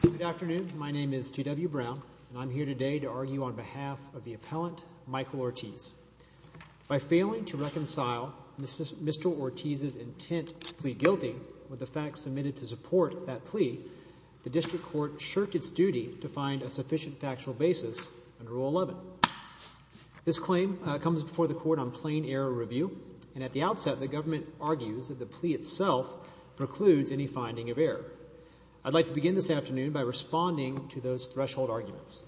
Good afternoon. My name is T.W. Brown, and I'm here today to argue on behalf of the appellant Michael Ortiz. By failing to reconcile Mr. Ortiz's intent to plead guilty with the facts submitted to support that plea, the district court shirked its duty to find a sufficient factual basis under Rule 11. This claim comes before the court on plain error review, and at the outset the government argues that the plea itself precludes any finding of error. I'd like to begin this afternoon by responding to those threshold arguments.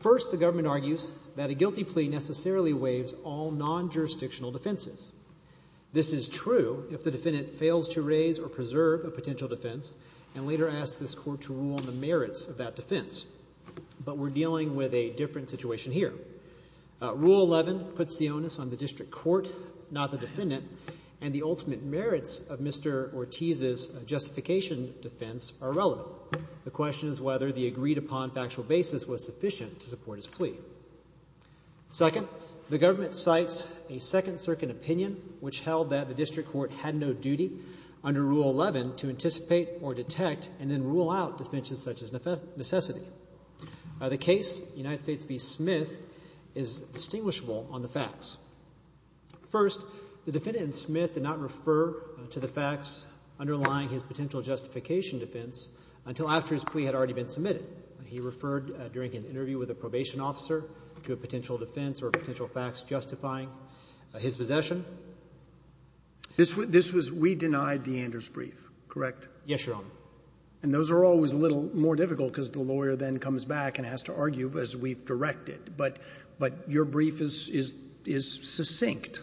First, the government argues that a guilty plea necessarily waives all non-jurisdictional defenses. This is true if the defendant fails to raise or preserve a potential defense and later asks this court to rule on the merits of that defense. But we're dealing with a different situation here. Rule 11 puts the onus on the district court, not the defendant, and the ultimate merits of Mr. Ortiz's justification defense are relevant. The question is whether the agreed-upon factual basis was sufficient to support his plea. Second, the government cites a Second Circuit opinion which held that the district court had no duty under Rule 11 to anticipate or detect and then rule out defenses such as necessity. The case, United States v. Smith, is distinguishable on the facts. First, the defendant in Smith did not refer to the facts underlying his potential justification defense until after his plea had already been submitted. He referred during an interview with a probation officer to a potential defense or potential facts justifying his possession. This was we denied the Anders brief, correct? Yes, Your Honor. And those are always a little more difficult because the lawyer then comes back and has to argue as we've directed. But your brief is succinct.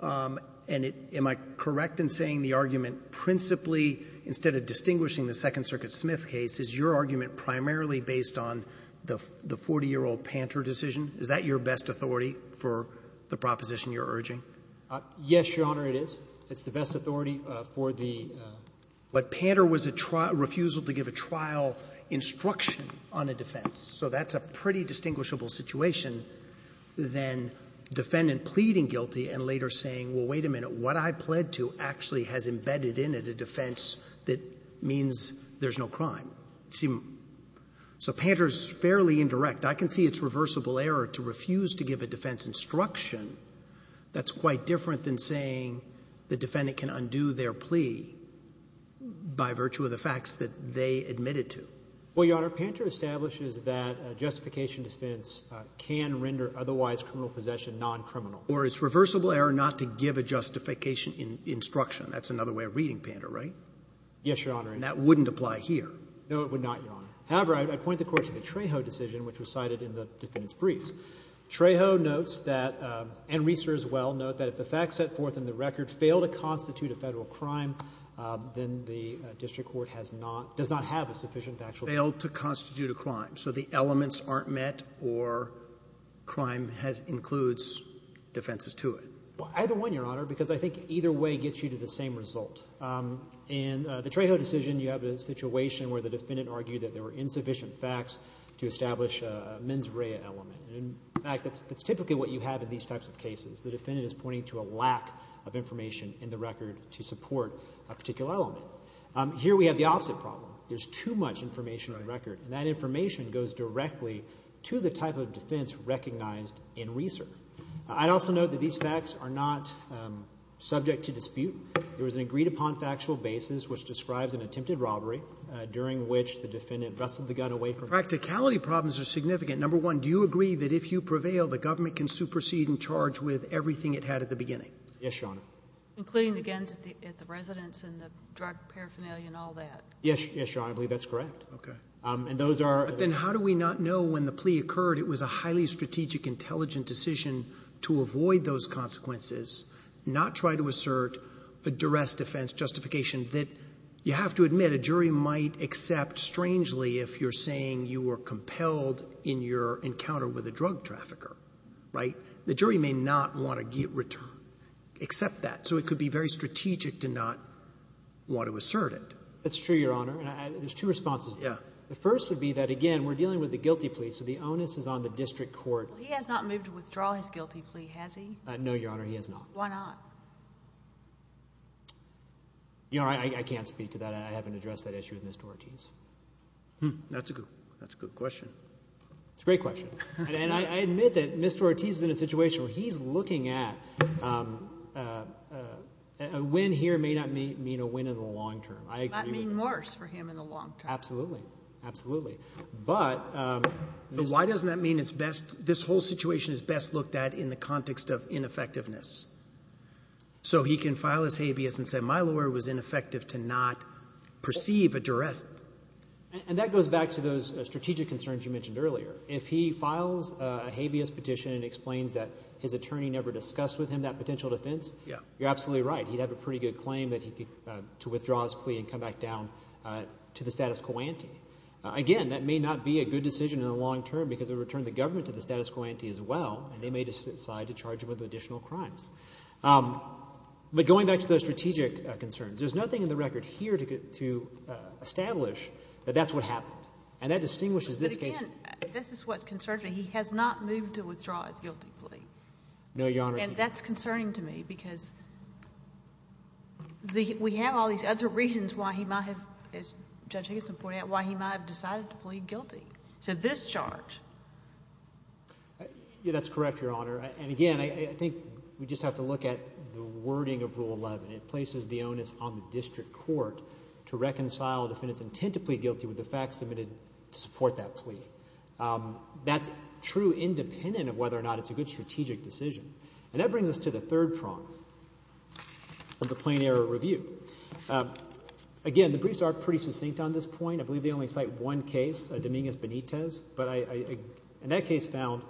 And am I correct in saying the argument principally, instead of distinguishing the Second Circuit Smith case, is your argument primarily based on the 40-year-old Panter decision? Is that your best authority for the proposition you're urging? Yes, Your Honor, it is. It's the best authority for the ---- But Panter was a refusal to give a trial instruction on a defense. So that's a pretty distinguishable situation than defendant pleading guilty and later saying, well, wait a minute, what I pled to actually has embedded in it a defense that means there's no crime. So Panter's fairly indirect. I can see its reversible error to refuse to give a defense instruction. That's quite different than saying the defendant can undo their plea by virtue of the facts that they admitted to. Well, Your Honor, Panter establishes that justification defense can render otherwise criminal possession noncriminal. Or it's reversible error not to give a justification instruction. That's another way of reading Panter, right? Yes, Your Honor. And that wouldn't apply here. No, it would not, Your Honor. However, I'd point the Court to the Trejo decision, which was cited in the defendant's case. Trejo notes that, and Reeser as well, note that if the facts set forth in the record fail to constitute a Federal crime, then the district court has not, does not have a sufficient factual ---- Failed to constitute a crime. So the elements aren't met or crime has — includes defenses to it. Well, either one, Your Honor, because I think either way gets you to the same result. In the Trejo decision, you have a situation where the defendant argued that there were insufficient facts to establish a mens rea element. In fact, that's typically what you have in these types of cases. The defendant is pointing to a lack of information in the record to support a particular element. Here we have the opposite problem. There's too much information in the record. And that information goes directly to the type of defense recognized in Reeser. I'd also note that these facts are not subject to dispute. There was an agreed-upon factual basis which describes an attempted robbery during which the defendant wrestled the gun away from her. Practicality problems are significant. Number one, do you agree that if you prevail, the government can supersede and charge with everything it had at the beginning? Yes, Your Honor. Including the guns at the residence and the drug paraphernalia and all that. Yes. Yes, Your Honor. I believe that's correct. Okay. And those are the ---- Then how do we not know when the plea occurred it was a highly strategic, intelligent decision to avoid those consequences, not try to assert a duress defense justification that, you have to admit, a jury might accept, strangely, if you're saying you were compelled in your encounter with a drug trafficker, right? The jury may not want to get return, accept that. So it could be very strategic to not want to assert it. That's true, Your Honor. There's two responses. Yeah. The first would be that, again, we're dealing with the guilty plea, so the onus is on the district court. Well, he has not moved to withdraw his guilty plea, has he? No, Your Honor, he has not. Why not? Your Honor, I can't speak to that. I haven't addressed that issue with Mr. Ortiz. That's a good question. It's a great question. And I admit that Mr. Ortiz is in a situation where he's looking at a win here may not mean a win in the long term. That may mean worse for him in the long term. Absolutely. Absolutely. But ---- Why doesn't that mean it's best, this whole situation is best looked at in the context of ineffectiveness? So he can file his habeas and say, my lawyer was ineffective to not perceive a duress. And that goes back to those strategic concerns you mentioned earlier. If he files a habeas petition and explains that his attorney never discussed with him that potential defense, you're absolutely right. He'd have a pretty good claim that he could, to withdraw his plea and come back down to the status quo ante. Again, that may not be a good decision in the long term because it would return the government to the status quo ante as well, and they may decide to charge him with additional crimes. But going back to those strategic concerns, there's nothing in the record here to establish that that's what happened. And that distinguishes this case. But again, this is what concerns me. He has not moved to withdraw his guilty plea. No, Your Honor. And that's concerning to me because we have all these other reasons why he might have, as Judge Higgins pointed out, why he might have decided to plead guilty to this charge. Yeah, that's correct, Your Honor. And again, I think we just have to look at the wording of Rule 11. It places the onus on the district court to reconcile a defendant's intent to plead guilty with the facts submitted to support that plea. That's true independent of whether or not it's a good strategic decision. And that brings us to the third prong of the plain error review. Again, the briefs are pretty succinct on this point. I believe they only cite one case, Dominguez Benitez. But in that case found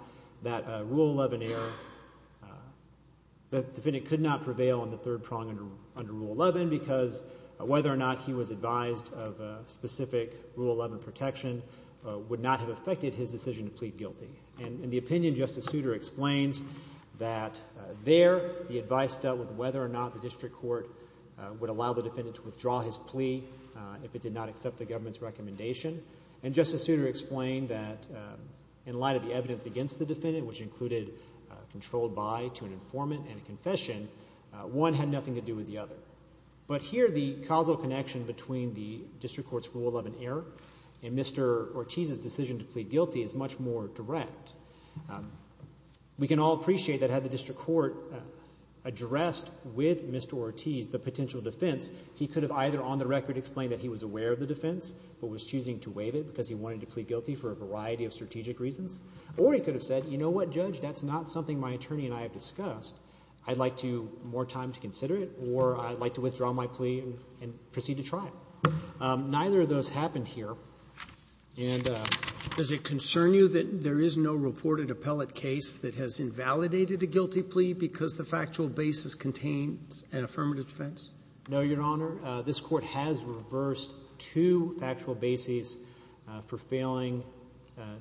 that Rule 11 error, the defendant could not prevail on the third prong under Rule 11 because whether or not he was advised of specific Rule 11 protection would not have affected his decision to plead guilty. And in the opinion, Justice Souter explains that there the advice dealt with whether or not the district court would allow the defendant to withdraw his plea if it did not accept the government's recommendation. And Justice Souter explained that in light of the evidence against the defendant, which included controlled by to an informant and a confession, one had nothing to do with the other. But here the causal connection between the district court's Rule 11 error and Mr. Ortiz's decision to plead guilty is much more direct. We can all appreciate that had the district court addressed with Mr. Ortiz the potential defense, he could have either on the record explained that he was aware of the defense but was choosing to waive it because he wanted to plead guilty for a variety of strategic reasons, or he could have said, you know what, Judge, that's not something my attorney and I have discussed. I'd like more time to consider it or I'd like to withdraw my plea and proceed to trial. Neither of those happened here. And does it concern you that there is no reported appellate case that has invalidated a guilty plea because the factual basis contains an affirmative defense? No, Your Honor. This Court has reversed two factual bases for failing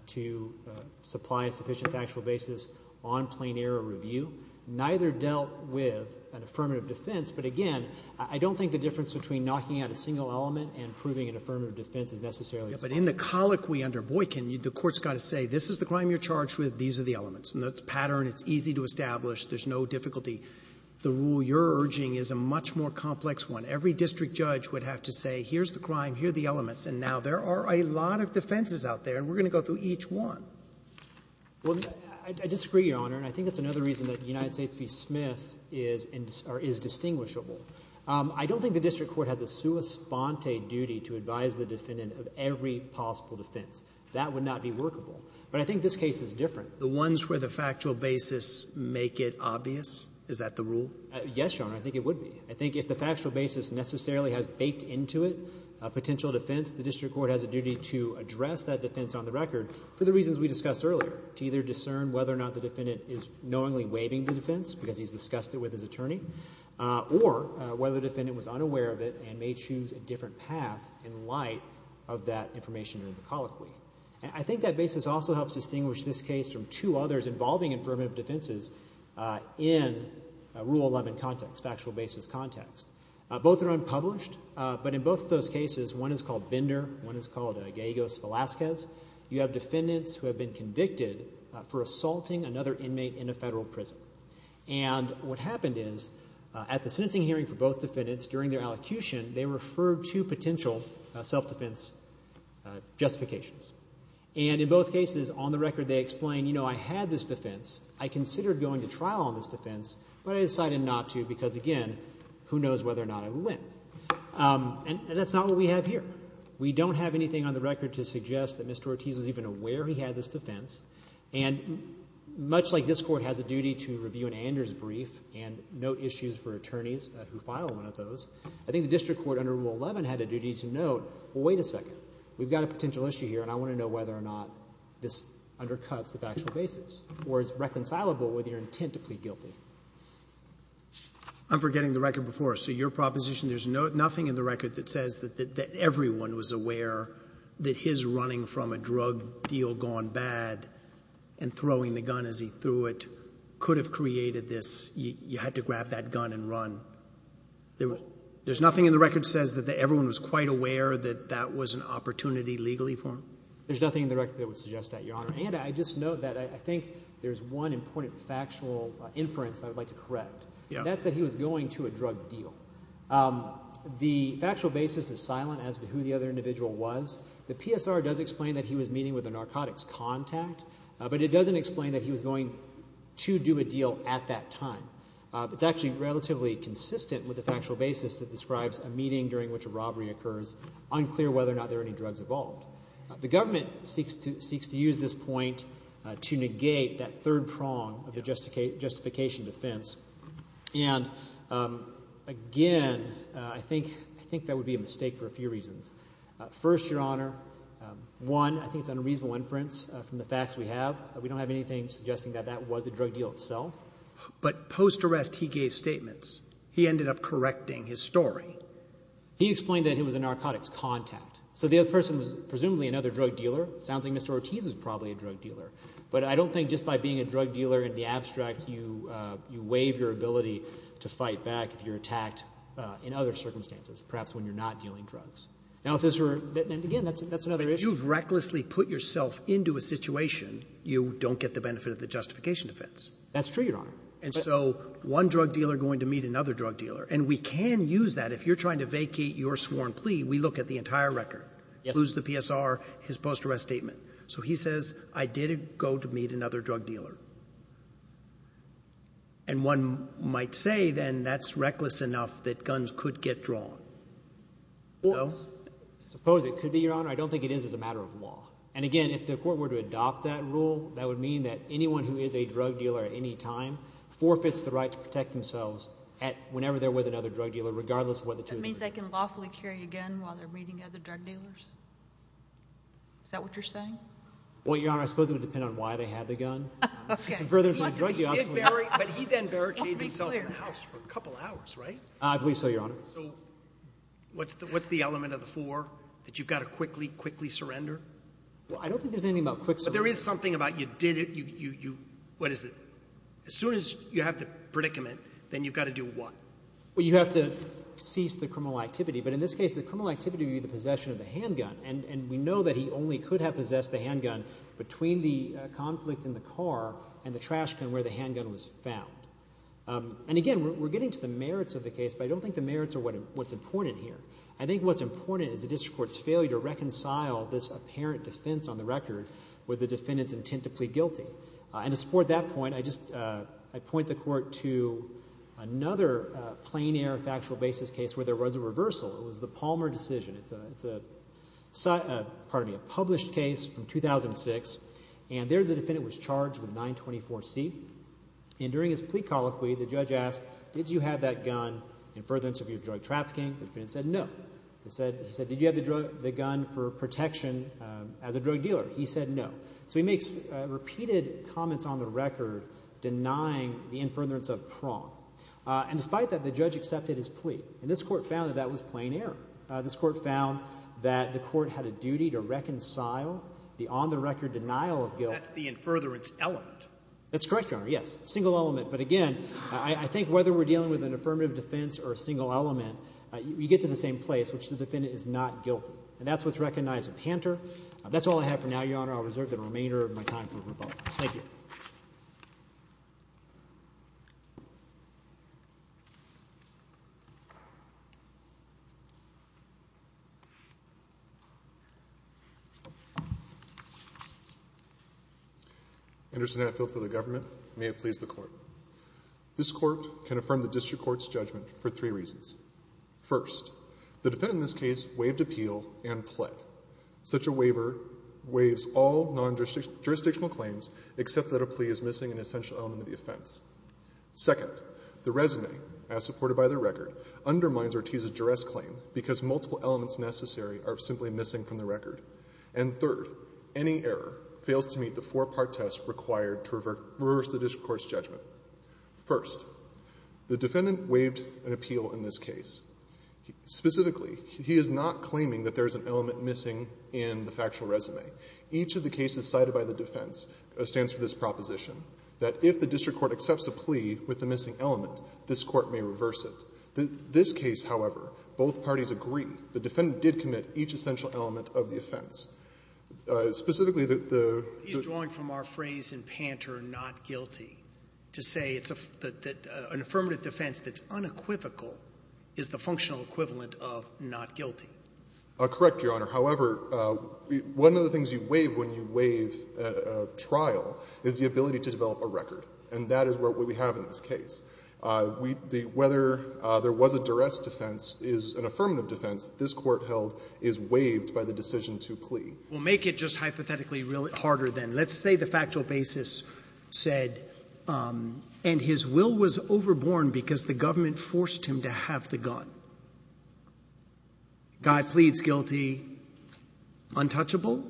to supply a sufficient factual basis on plain error review. Neither dealt with an affirmative defense. But again, I don't think the difference between knocking out a single element and proving an affirmative defense is necessarily the same. But in the colloquy under Boykin, the Court's got to say this is the crime you're charged with, these are the elements. It's a pattern, it's easy to establish, there's no difficulty. The rule you're urging is a much more complex one. Every district judge would have to say here's the crime, here are the elements, and now there are a lot of defenses out there and we're going to go through each one. Well, I disagree, Your Honor, and I think that's another reason that United States v. Smith is distinguishable. I don't think the district court has a sua sponte duty to advise the defendant of every possible defense. That would not be workable. But I think this case is different. The ones where the factual basis make it obvious, is that the rule? Yes, Your Honor. I think it would be. I think if the factual basis necessarily has baked into it a potential defense, the district court has a duty to address that defense on the record for the reasons we discussed earlier, to either discern whether or not the defendant is knowingly defending the defense because he's discussed it with his attorney, or whether the defendant was unaware of it and may choose a different path in light of that information in the colloquy. I think that basis also helps distinguish this case from two others involving affirmative defenses in Rule 11 context, factual basis context. Both are unpublished, but in both of those cases, one is called Binder, one is called Gallegos-Velasquez, you have defendants who have been convicted for assaulting another inmate in a federal prison. And what happened is, at the sentencing hearing for both defendants, during their allocution, they referred to potential self-defense justifications. And in both cases, on the record they explain, you know, I had this defense, I considered going to trial on this defense, but I decided not to because, again, who knows whether or not I would win. And that's not what we have here. We don't have anything on the record to suggest that Mr. Ortiz was even aware he had this defense. And much like this Court has a duty to review an Anders brief and note issues for attorneys who file one of those, I think the district court under Rule 11 had a duty to note, well, wait a second, we've got a potential issue here, and I want to know whether or not this undercuts the factual basis or is reconcilable with your intent to plead guilty. I'm forgetting the record before. So your proposition, there's nothing in the record that says that everyone was aware that his running from a drug deal gone bad and throwing the gun as he threw it could have created this, you had to grab that gun and run. There's nothing in the record that says that everyone was quite aware that that was an opportunity legally for him? There's nothing in the record that would suggest that, Your Honor. And I just note that I think there's one important factual inference I would like to correct. That's that he was going to a drug deal. The factual basis is silent as to who the other individual was. The PSR does explain that he was meeting with a narcotics contact, but it doesn't explain that he was going to do a deal at that time. It's actually relatively consistent with the factual basis that describes a meeting during which a robbery occurs, unclear whether or not there are any drugs involved. The government seeks to use this point to negate that third prong of the justification defense. And, again, I think that would be a mistake for a few reasons. First, Your Honor, one, I think it's unreasonable inference from the facts we have. We don't have anything suggesting that that was a drug deal itself. But post-arrest he gave statements. He ended up correcting his story. He explained that he was a narcotics contact. So the other person was presumably another drug dealer. It sounds like Mr. Ortiz was probably a drug dealer. But I don't think just by being a drug dealer in the abstract you waive your ability to fight back if you're attacked in other circumstances, perhaps when you're not dealing drugs. Now, if this were — and, again, that's another issue. Roberts. If you've recklessly put yourself into a situation, you don't get the benefit of the justification defense. That's true, Your Honor. And so one drug dealer going to meet another drug dealer. And we can use that. If you're trying to vacate your sworn plea, we look at the entire record, lose the PSR, his post-arrest statement. So he says I did go to meet another drug dealer. And one might say, then, that's reckless enough that guns could get drawn. No? Suppose it could be, Your Honor. I don't think it is as a matter of law. And, again, if the court were to adopt that rule, that would mean that anyone who is a drug dealer at any time forfeits the right to protect themselves whenever they're with another drug dealer, regardless of whether the two of them are together. That means they can lawfully carry a gun while they're meeting other drug dealers? Is that what you're saying? Well, Your Honor, I suppose it would depend on why they had the gun. Okay. But he then barricaded himself in the house for a couple hours, right? I believe so, Your Honor. So what's the element of the four, that you've got to quickly, quickly surrender? Well, I don't think there's anything about quick surrender. But there is something about you did it. What is it? As soon as you have the predicament, then you've got to do what? Well, you have to cease the criminal activity. But in this case, the criminal activity would be the possession of the handgun. And we know that he only could have possessed the handgun between the conflict in the car and the trash can where the handgun was found. And again, we're getting to the merits of the case, but I don't think the merits are what's important here. I think what's important is the district court's failure to reconcile this apparent defense on the record with the defendant's intent to plead guilty. And to support that point, I just point the court to another plain air factual basis case where there was a reversal. It was the Palmer decision. It's a published case from 2006, and there the defendant was charged with 924C. And during his plea colloquy, the judge asked, did you have that gun in furtherance of your drug trafficking? The defendant said no. He said, did you have the gun for protection as a drug dealer? He said no. So he makes repeated comments on the record denying the in furtherance of prong. And despite that, the judge accepted his plea. And this court found that that was plain air. This court found that the court had a duty to reconcile the on the record denial of guilt. That's the in furtherance element. That's correct, Your Honor. Yes, single element. But again, I think whether we're dealing with an affirmative defense or a single element, you get to the same place, which the defendant is not guilty. And that's what's recognized in Panter. That's all I have for now, Your Honor. I'll reserve the remainder of my time for rebuttal. Thank you. Thank you. Anderson Hatfield for the government. May it please the court. This court can affirm the district court's judgment for three reasons. First, the defendant in this case waived appeal and pled. Such a waiver waives all non-jurisdictional claims, except that a plea is missing an essential element of the offense. Second, the resume, as supported by the record, undermines Ortiz's duress claim because multiple elements necessary are simply missing from the record. And third, any error fails to meet the four-part test required to reverse the district court's judgment. First, the defendant waived an appeal in this case. Specifically, he is not claiming that there is an element missing in the factual resume. Each of the cases cited by the defense stands for this proposition, that if the district court accepts a plea with a missing element, this court may reverse it. This case, however, both parties agree. The defendant did commit each essential element of the offense. Specifically, the — He's drawing from our phrase in Panter, not guilty, to say it's a — that an affirmative defense that's unequivocal is the functional equivalent of not guilty. Correct, Your Honor. However, one of the things you waive when you waive a trial is the ability to develop a record. And that is what we have in this case. Whether there was a duress defense is an affirmative defense. This court held is waived by the decision to plea. Well, make it just hypothetically harder, then. Let's say the factual basis said, and his will was overborne because the government forced him to have the gun. Guy pleads guilty. Untouchable?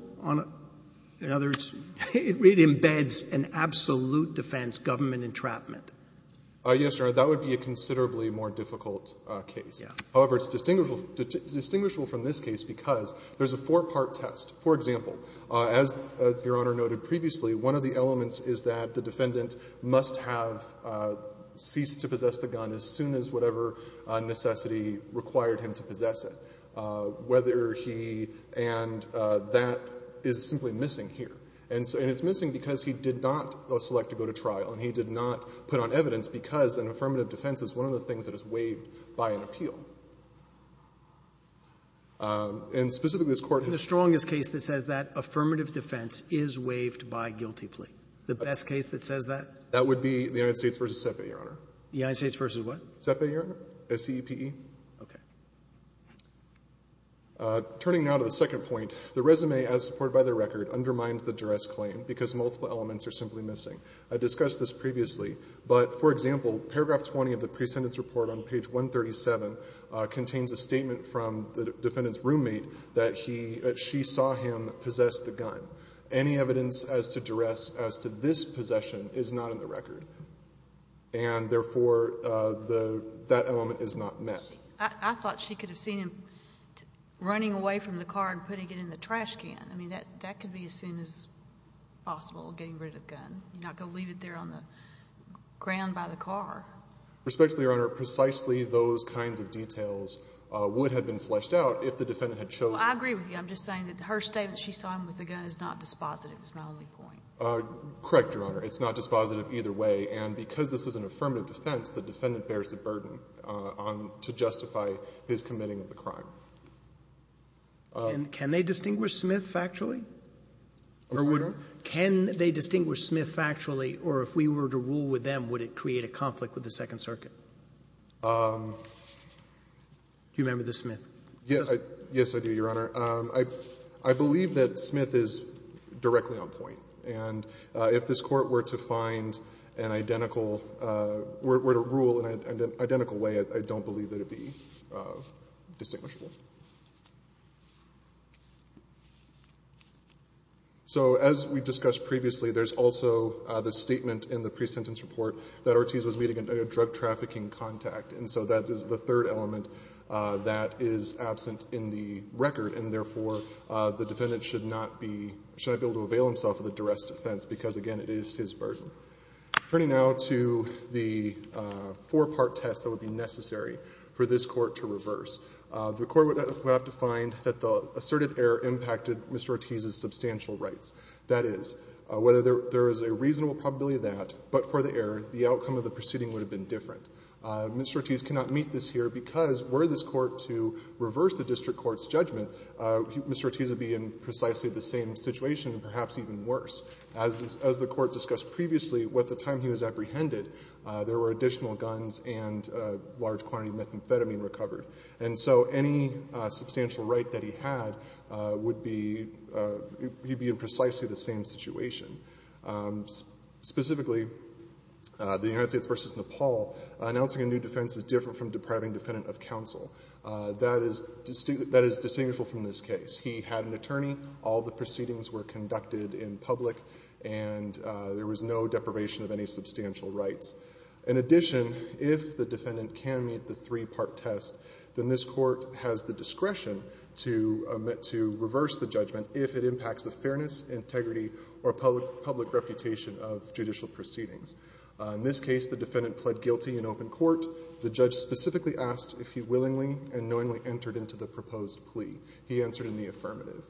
In other words, it really embeds an absolute defense government entrapment. Yes, Your Honor. That would be a considerably more difficult case. However, it's distinguishable from this case because there's a four-part test. For example, as Your Honor noted previously, one of the elements is that the defendant must have ceased to possess the gun as soon as whatever necessity required him to possess whether he and that is simply missing here. And it's missing because he did not select to go to trial, and he did not put on evidence because an affirmative defense is one of the things that is waived by an appeal. And specifically, this Court has chosen to waive it. In the strongest case that says that, affirmative defense is waived by guilty plea. The best case that says that? That would be the United States v. CEPA, Your Honor. The United States v. what? CEPA, Your Honor. S-C-E-P-E. Okay. Turning now to the second point, the resume as supported by the record undermines the duress claim because multiple elements are simply missing. I discussed this previously, but, for example, paragraph 20 of the presentence report on page 137 contains a statement from the defendant's roommate that he or she saw him possess the gun. Any evidence as to duress as to this possession is not in the record, and therefore that element is not met. I thought she could have seen him running away from the car and putting it in the trash can. I mean, that could be as soon as possible, getting rid of the gun. You're not going to leave it there on the ground by the car. Respectfully, Your Honor, precisely those kinds of details would have been fleshed out if the defendant had chosen. Well, I agree with you. I'm just saying that her statement, she saw him with the gun, is not dispositive is my only point. Correct, Your Honor. It's not dispositive either way. And because this is an affirmative defense, the defendant bears the burden to justify his committing of the crime. And can they distinguish Smith factually? I'm sorry, Your Honor? Can they distinguish Smith factually? Or if we were to rule with them, would it create a conflict with the Second Circuit? Do you remember the Smith? Yes. Yes, I do, Your Honor. I believe that Smith is directly on point. And if this Court were to find an identical, were to rule in an identical way, I don't believe that it would be distinguishable. So as we discussed previously, there's also the statement in the pre-sentence report that Ortiz was meeting a drug trafficking contact. And so that is the third element that is absent in the record. And therefore, the defendant should not be able to avail himself of the duress defense because, again, it is his burden. Turning now to the four-part test that would be necessary for this Court to reverse. The Court would have to find that the asserted error impacted Mr. Ortiz's substantial rights. That is, whether there is a reasonable probability of that, but for the error, the outcome of the proceeding would have been different. Mr. Ortiz cannot meet this here because were this Court to reverse the district court's judgment, Mr. Ortiz would be in precisely the same situation and perhaps even worse. As the Court discussed previously, at the time he was apprehended, there were additional guns and a large quantity of methamphetamine recovered. And so any substantial right that he had would be, he'd be in precisely the same situation. Specifically, the United States v. Nepal announcing a new defense is different from depriving a defendant of counsel. That is distinguishable from this case. He had an attorney. All the proceedings were conducted in public. And there was no deprivation of any substantial rights. In addition, if the defendant can meet the three-part test, then this Court has the discretion to reverse the judgment if it impacts the fairness, integrity, or public reputation of judicial proceedings. In this case, the defendant pled guilty in open court. The judge specifically asked if he willingly and knowingly entered into the proposed plea. He answered in the affirmative.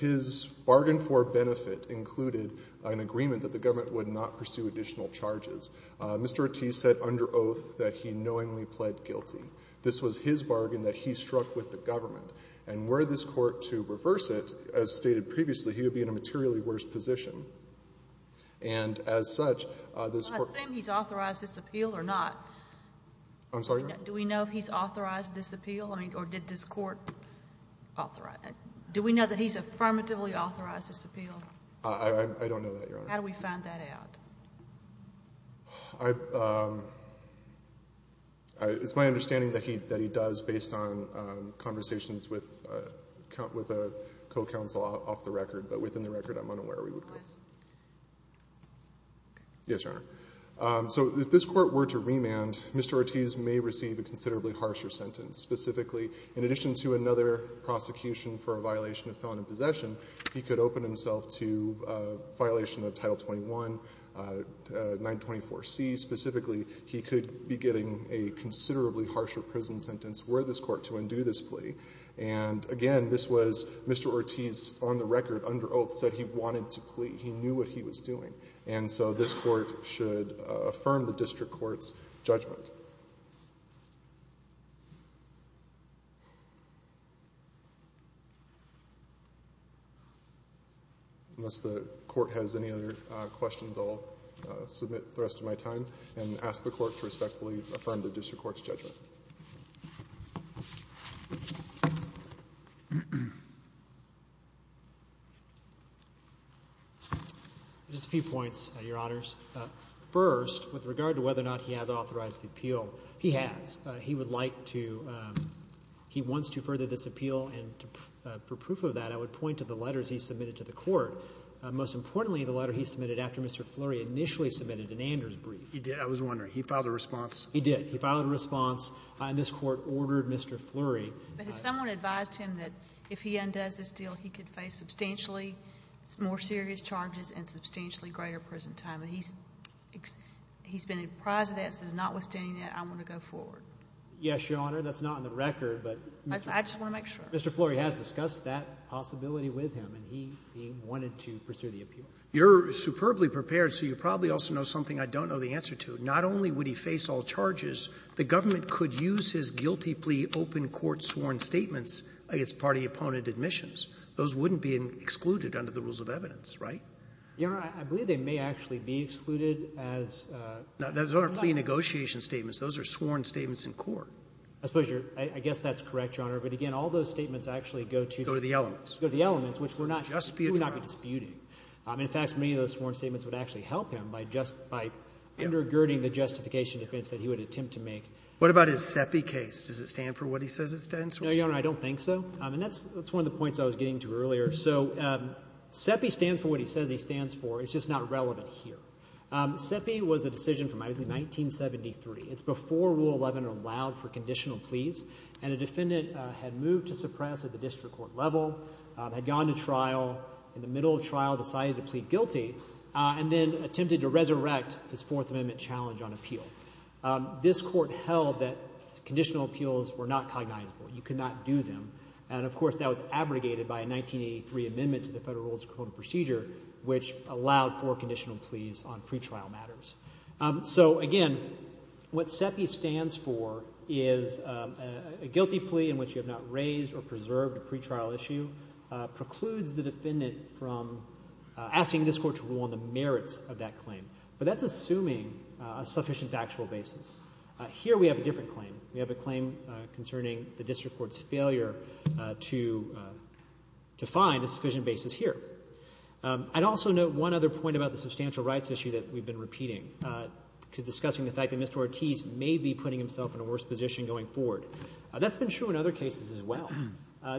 His bargain for benefit included an agreement that the government would not pursue additional charges. Mr. Ortiz said under oath that he knowingly pled guilty. This was his bargain that he struck with the government. And were this Court to reverse it, as stated previously, he would be in a materially And as such, this Court was not able to reverse it. I'm sorry? Do we know if he's authorized this appeal? Or did this Court authorize it? Do we know that he's affirmatively authorized this appeal? I don't know that, Your Honor. How do we find that out? It's my understanding that he does based on conversations with a co-counsel off the record. But within the record, I'm unaware we would go. Please. Yes, Your Honor. So if this Court were to remand, Mr. Ortiz may receive a considerably harsher sentence. Specifically, in addition to another prosecution for a violation of felon in possession, he could open himself to a violation of Title 21, 924C. Specifically, he could be getting a considerably harsher prison sentence were this Court to undo this plea. And again, this was Mr. Ortiz on the record under oath said he wanted to plea. He knew what he was doing. And so this Court should affirm the district court's judgment. Unless the Court has any other questions, I'll submit the rest of my time and ask the Court to respectfully affirm the district court's judgment. Thank you. Just a few points, Your Honors. First, with regard to whether or not he has authorized the appeal, he has. He would like to, he wants to further this appeal. And for proof of that, I would point to the letters he submitted to the Court. Most importantly, the letter he submitted after Mr. Flurry initially submitted an Anders brief. He did. I was wondering. He filed a response. He did. He filed a response. And this Court ordered Mr. Flurry. But has someone advised him that if he undoes this deal, he could face substantially more serious charges and substantially greater prison time? And he's been surprised at that, says notwithstanding that, I want to go forward. Yes, Your Honor. That's not on the record. But Mr. Flurry has discussed that possibility with him. And he wanted to pursue the appeal. You're superbly prepared, so you probably also know something I don't know the answer to. Not only would he face all charges, the government could use his guilty plea open-court sworn statements against party opponent admissions. Those wouldn't be excluded under the rules of evidence, right? Your Honor, I believe they may actually be excluded as. No, those aren't plea negotiation statements. Those are sworn statements in court. I suppose you're, I guess that's correct, Your Honor. But again, all those statements actually go to. Go to the elements. Go to the elements, which we're not. Just be a trial. We're not disputing. In fact, many of those sworn statements would actually help him by undergirding the justification defense that he would attempt to make. What about his CEPI case? Does it stand for what he says it stands for? No, Your Honor, I don't think so. And that's one of the points I was getting to earlier. So CEPI stands for what he says he stands for. It's just not relevant here. CEPI was a decision from 1973. It's before Rule 11 allowed for conditional pleas. And a defendant had moved to suppress at the district court level, had gone to trial. In the middle of trial, decided to plead guilty and then attempted to resurrect his Fourth Amendment challenge on appeal. This court held that conditional appeals were not cognizable. You could not do them. And, of course, that was abrogated by a 1983 amendment to the Federal Rules of Procedure, which allowed for conditional pleas on pretrial matters. So, again, what CEPI stands for is a guilty plea in which you have not raised or preserved a pretrial issue, and that claim precludes the defendant from asking this Court to rule on the merits of that claim. But that's assuming a sufficient factual basis. Here we have a different claim. We have a claim concerning the district court's failure to find a sufficient basis here. I'd also note one other point about the substantial rights issue that we've been repeating, to discussing the fact that Mr. Ortiz may be putting himself in a worse position going forward. That's been true in other cases as well.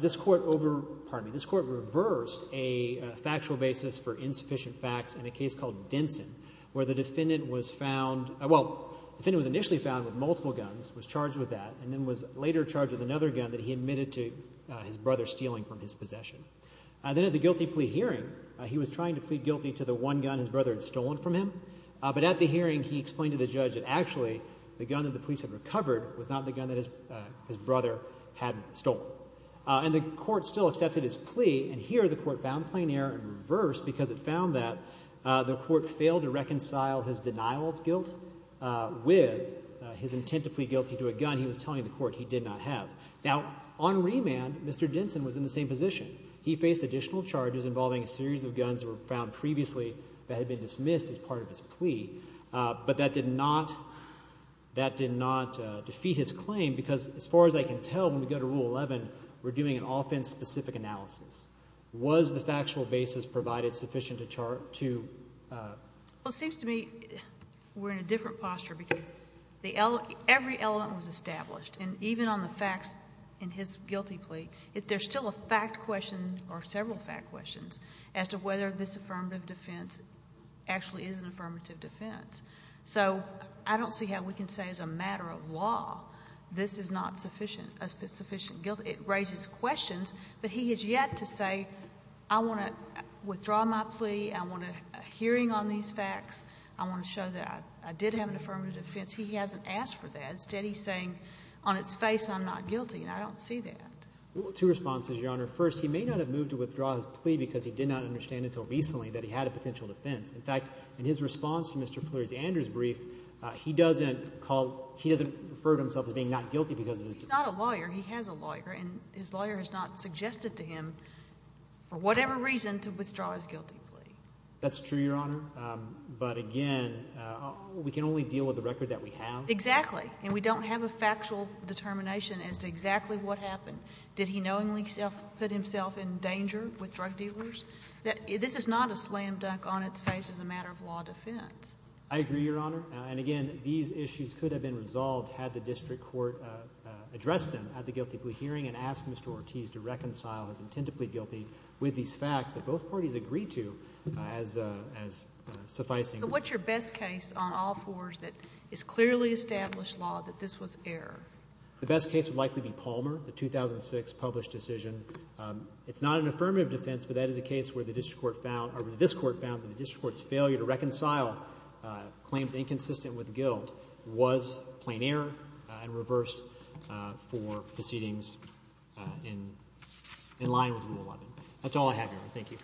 This court reversed a factual basis for insufficient facts in a case called Denson, where the defendant was initially found with multiple guns, was charged with that, and then was later charged with another gun that he admitted to his brother stealing from his possession. Then at the guilty plea hearing, he was trying to plead guilty to the one gun his brother had stolen from him, but at the hearing he explained to the judge that, actually, the gun that the police had recovered was not the gun that his brother had stolen. And the court still accepted his plea, and here the court found plain error in reverse because it found that the court failed to reconcile his denial of guilt with his intent to plead guilty to a gun he was telling the court he did not have. Now, on remand, Mr. Denson was in the same position. He faced additional charges involving a series of guns that were found previously that had been dismissed as part of his plea, but that did not defeat his claim because, as far as I can tell, when we go to Rule 11, we're doing an offense-specific analysis. Was the factual basis provided sufficient to chart to? Well, it seems to me we're in a different posture because every element was established, and even on the facts in his guilty plea, there's still a fact question or several fact questions as to whether this affirmative defense actually is an affirmative defense. So I don't see how we can say as a matter of law this is not sufficient guilt. It raises questions, but he has yet to say I want to withdraw my plea. I want a hearing on these facts. I want to show that I did have an affirmative defense. He hasn't asked for that. Instead, he's saying on its face I'm not guilty, and I don't see that. Two responses, Your Honor. First, he may not have moved to withdraw his plea because he did not understand until recently that he had a potential defense. In fact, in his response to Mr. Fleury's Andrews brief, he doesn't refer to himself as being not guilty because of his defense. He's not a lawyer. He has a lawyer, and his lawyer has not suggested to him for whatever reason to withdraw his guilty plea. That's true, Your Honor, but again, we can only deal with the record that we have. Exactly, and we don't have a factual determination as to exactly what happened. Did he knowingly put himself in danger with drug dealers? This is not a slam dunk on its face as a matter of law defense. I agree, Your Honor, and again, these issues could have been resolved had the district court addressed them at the guilty plea hearing and asked Mr. Ortiz to reconcile his intent to plead guilty with these facts that both parties agreed to as sufficing. So what's your best case on all fours that is clearly established law that this was error? The best case would likely be Palmer, the 2006 published decision. It's not an affirmative defense, but that is a case where the district court found or where this court found that the district court's failure to reconcile claims inconsistent with guilt was plain error and reversed for proceedings in line with Rule 11. That's all I have, Your Honor. Thank you. Thank you.